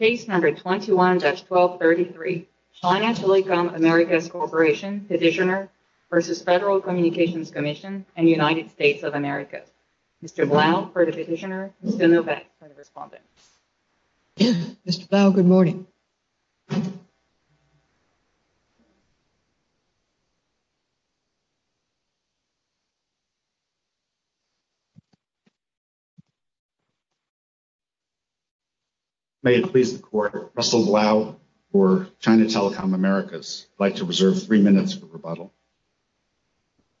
Case No. 21-1233, China Telecom Americas Corporation petitioner v. Federal Communications Commission and United States of America. Mr. Blau for the petitioner, Mr. Novak for the respondent. Mr. Blau, good morning. May it please the Court, Russell Blau for China Telecom Americas. I'd like to reserve three minutes for rebuttal.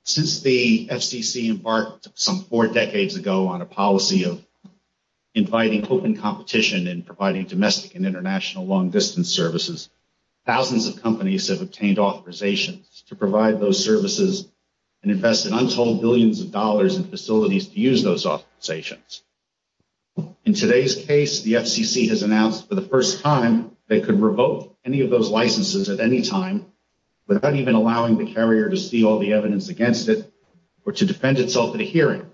Since the FCC embarked some four decades ago on a policy of inviting open competition and providing domestic and international long-distance services, thousands of companies have obtained authorizations to provide those services and invested untold billions of dollars in facilities to use those authorizations. In today's case, the FCC has announced for the first time they could revoke any of those licenses at any time without even allowing the carrier to see all the evidence against it or to defend itself in a hearing.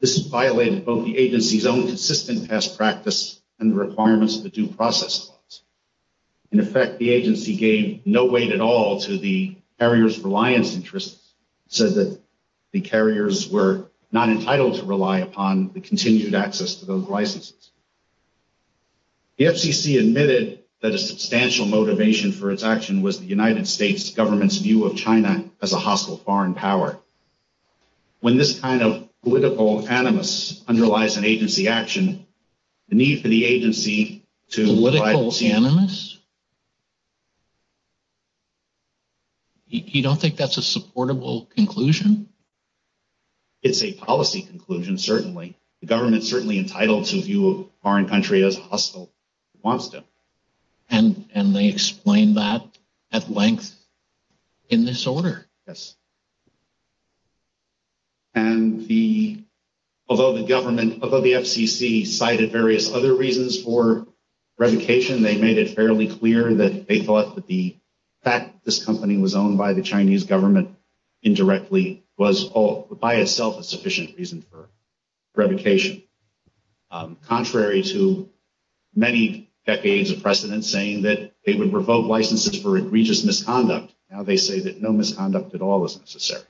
This violated both the agency's own consistent past practice and the requirements of the due process laws. In effect, the agency gave no weight at all to the carrier's reliance interests and said that the carriers were not entitled to rely upon the continued access to those licenses. The FCC admitted that a substantial motivation for its action was the United States government's view of China as a hostile foreign power. When this kind of political animus underlies an agency action, the need for the agency to... Political animus? You don't think that's a supportable conclusion? It's a policy conclusion, certainly. The government's certainly entitled to view a foreign country as hostile if it wants to. And they explained that at length in this order. Yes. And although the FCC cited various other reasons for revocation, they made it fairly clear that they thought that the fact that this company was owned by the Chinese government indirectly was by itself a sufficient reason for revocation. Contrary to many decades of precedent saying that they would revoke licenses for egregious misconduct, now they say that no misconduct at all is necessary.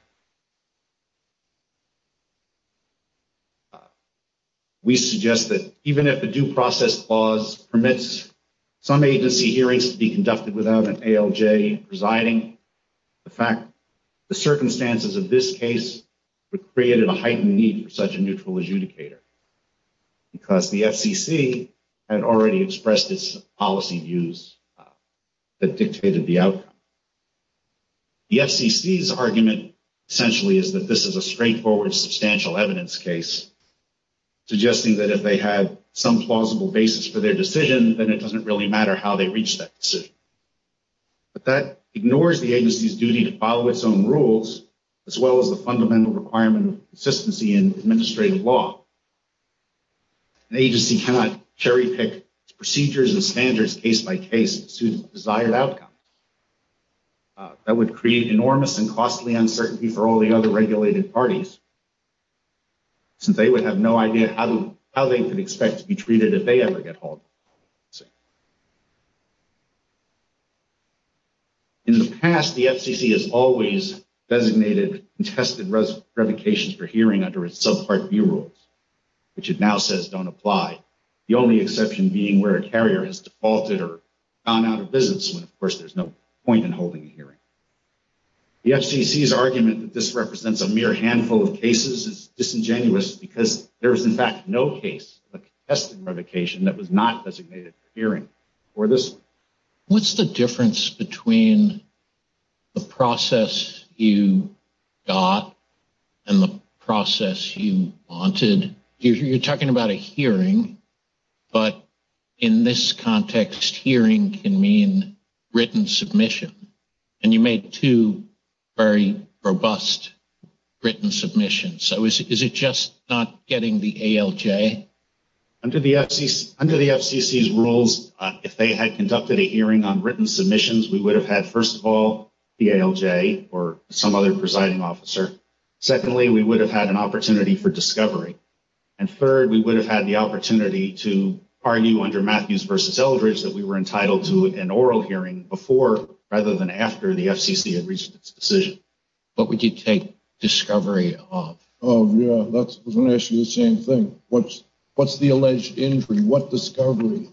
We suggest that even if the due process clause permits some agency hearings to be conducted without an ALJ presiding, the circumstances of this case would create a heightened need for such a neutral adjudicator. Because the FCC had already expressed its policy views that dictated the outcome. The FCC's argument, essentially, is that this is a straightforward, substantial evidence case, suggesting that if they have some plausible basis for their decision, then it doesn't really matter how they reach that decision. But that ignores the agency's duty to follow its own rules, as well as the fundamental requirement of consistency in administrative law. An agency cannot cherry-pick procedures and standards case-by-case to suit desired outcomes. That would create enormous and costly uncertainty for all the other regulated parties, since they would have no idea how they could expect to be treated if they ever get hauled. In the past, the FCC has always designated and tested revocations for hearing under its subpart B rules, which it now says don't apply, the only exception being where a carrier has defaulted or gone out of business when, of course, there's no point in holding a hearing. The FCC's argument that this represents a mere handful of cases is disingenuous because there is, in fact, no case of a contested revocation that was not designated for hearing for this one. What's the difference between the process you got and the process you wanted? You're talking about a hearing, but in this context, hearing can mean written submission, and you made two very robust written submissions. So is it just not getting the ALJ? Under the FCC's rules, if they had conducted a hearing on written submissions, we would have had, first of all, the ALJ or some other presiding officer. Secondly, we would have had an opportunity for discovery. And third, we would have had the opportunity to argue under Matthews v. Eldridge that we were entitled to an oral hearing before rather than after the FCC had reached its decision. What would you take discovery of? Oh, yeah, I was going to ask you the same thing. What's the alleged injury? What discovery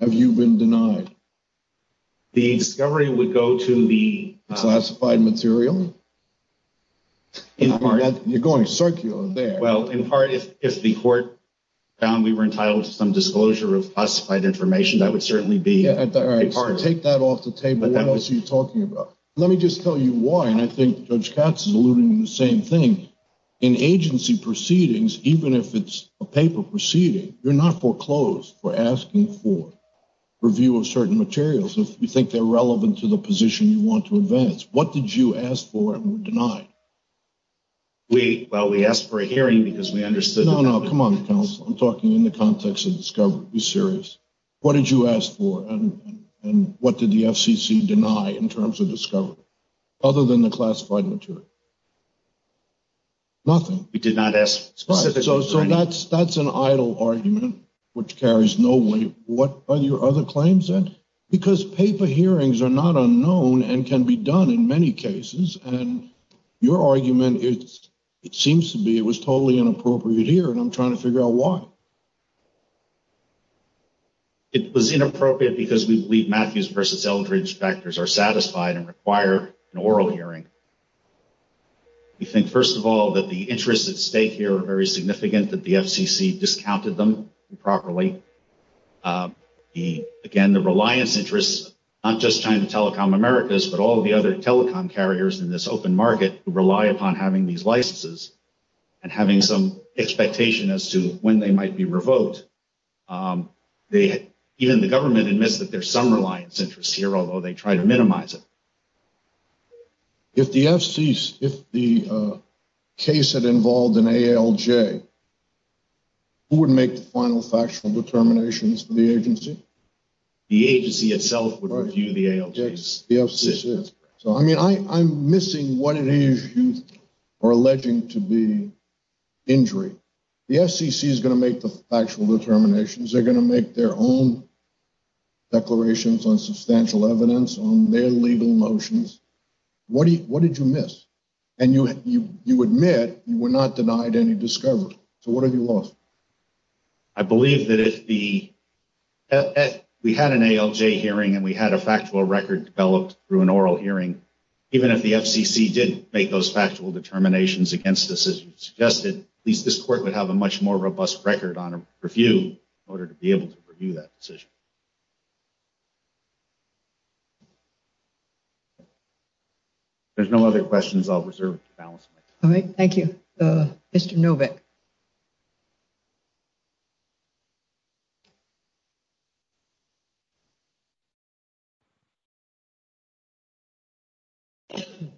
have you been denied? The discovery would go to the… Classified material? You're going circular there. Well, in part, if the court found we were entitled to some disclosure of classified information, that would certainly be… All right, so take that off the table. What else are you talking about? Let me just tell you why, and I think Judge Katz is alluding to the same thing. In agency proceedings, even if it's a paper proceeding, you're not foreclosed for asking for review of certain materials if you think they're relevant to the position you want to advance. What did you ask for and were denied? Well, we asked for a hearing because we understood… No, no, come on, counsel. I'm talking in the context of discovery. Be serious. What did you ask for and what did the FCC deny in terms of discovery other than the classified material? Nothing. We did not ask specific… So that's an idle argument, which carries no weight. What are your other claims, then? Because paper hearings are not unknown and can be done in many cases, and your argument, it seems to be it was totally inappropriate here, and I'm trying to figure out why. It was inappropriate because we believe Matthews v. Eldridge factors are satisfied and require an oral hearing. We think, first of all, that the interests at stake here are very significant, that the FCC discounted them improperly. Again, the reliance interests, not just China Telecom Americas, but all the other telecom carriers in this open market rely upon having these licenses and having some expectation as to when they might be revoked. Even the government admits that there's some reliance interests here, although they try to minimize it. If the FCC, if the case had involved an ALJ, who would make the final factual determinations for the agency? The agency itself would review the ALJ. So, I mean, I'm missing what it is you are alleging to be injury. The FCC is going to make the factual determinations. They're going to make their own declarations on substantial evidence on their legal notions. What did you miss? And you admit you were not denied any discovery. So what have you lost? I believe that if we had an ALJ hearing and we had a factual record developed through an oral hearing, even if the FCC did make those factual determinations against us, as you suggested, at least this court would have a much more robust record on a review in order to be able to review that decision. There's no other questions. I'll reserve the balance. All right. Thank you. Mr. Novick. Thank you.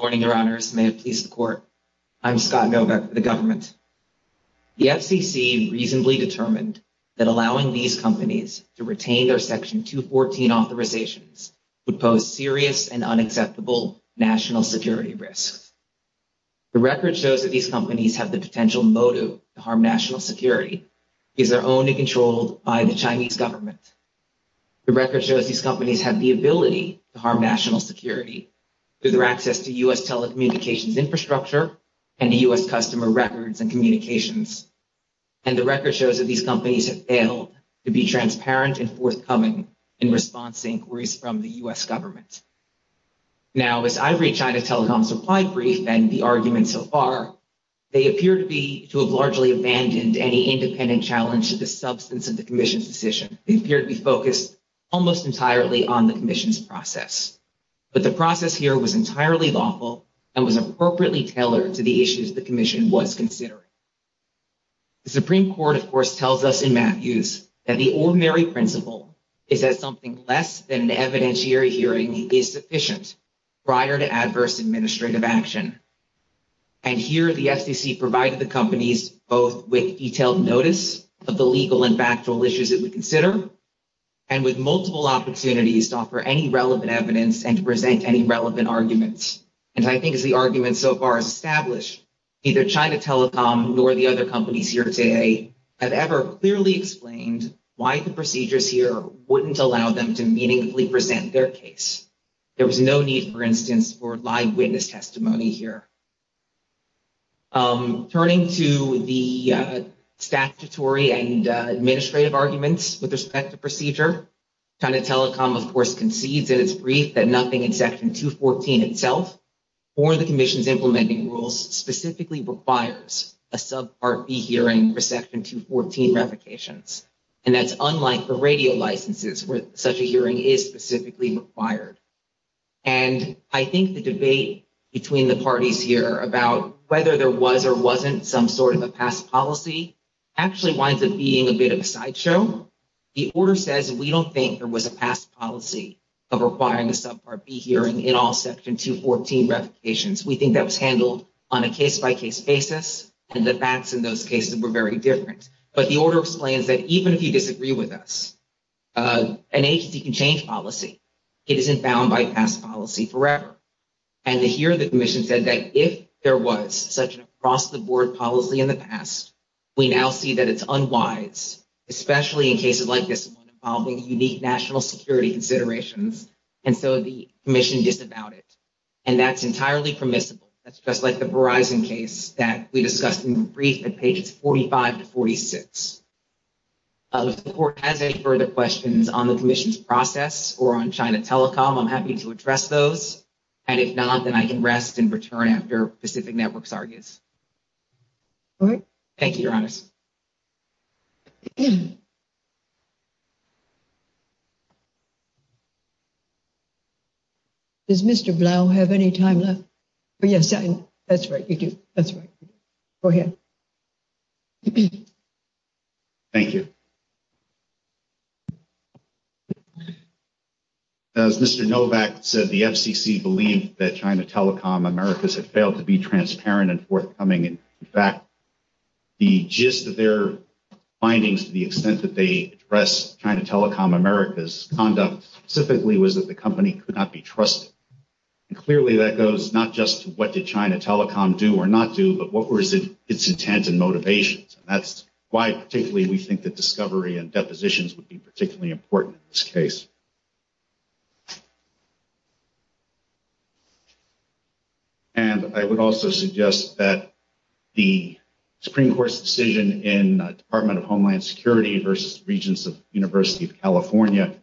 I'm Scott Novick for the government. The FCC reasonably determined that allowing these companies to retain their Section 214 authorizations would pose serious and unacceptable national security risks. The record shows that these companies have the potential motive to harm national security. These are only controlled by the Chinese government. The record shows these companies have the ability to harm national security through their access to U.S. telecommunications infrastructure and U.S. customer records and communications. And the record shows that these companies have failed to be transparent and forthcoming in response to inquiries from the U.S. government. Now, as I've reached out to Telecom Supply Brief and the arguments so far, they appear to be to have largely abandoned any independent challenge to the substance of the commission's decision. They appear to be focused almost entirely on the commission's process. But the process here was entirely lawful and was appropriately tailored to the issues the commission was considering. The Supreme Court, of course, tells us in Matthews that the ordinary principle is that something less than an evidentiary hearing is sufficient prior to adverse administrative action. And here the FCC provided the companies both with detailed notice of the legal and factual issues that we consider and with multiple opportunities to offer any relevant evidence and to present any relevant arguments. And I think as the arguments so far as established, either China Telecom nor the other companies here today have ever clearly explained why the procedures here wouldn't allow them to meaningfully present their case. There was no need, for instance, for live witness testimony here. Turning to the statutory and administrative arguments with respect to procedure, China Telecom, of course, concedes in its brief that nothing in Section 214 itself or the commission's implementing rules specifically requires a subpart B hearing for Section 214 revocations. And that's unlike the radio licenses where such a hearing is specifically required. And I think the debate between the parties here about whether there was or wasn't some sort of a past policy actually winds up being a bit of a sideshow. The order says we don't think there was a past policy of requiring a subpart B hearing in all Section 214 revocations. We think that was handled on a case-by-case basis and the facts in those cases were very different. But the order explains that even if you disagree with us, an agency can change policy. It isn't bound by past policy forever. And here the commission said that if there was such an across-the-board policy in the past, we now see that it's unwise, especially in cases like this involving unique national security considerations. And so the commission disavowed it. And that's entirely permissible. That's just like the Verizon case that we discussed in the brief at pages 45 to 46. If the court has any further questions on the commission's process or on China Telecom, I'm happy to address those. And if not, then I can rest and return after Pacific Networks argues. All right. Thank you, Your Honor. Yes. Does Mr. Blau have any time left? Yes. That's right. You do. That's right. Go ahead. Thank you. As Mr. Novak said, the FCC believed that China Telecom Americas had failed to be transparent and forthcoming. In fact, the gist of their findings to the extent that they address China Telecom Americas conduct specifically was that the company could not be trusted. And clearly that goes not just to what did China Telecom do or not do, but what was its intent and motivations. And that's why particularly we think that discovery and depositions would be particularly important in this case. And I would also suggest that the Supreme Court's decision in Department of Homeland Security versus Regents of University of California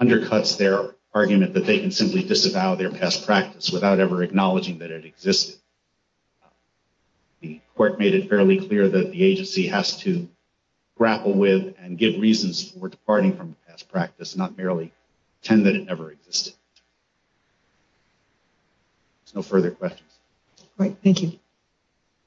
undercuts their argument that they can simply disavow their past practice without ever acknowledging that it existed. The court made it fairly clear that the agency has to grapple with and give reasons for departing from past practice, not merely tend that it never existed. No further questions. Great. Thank you.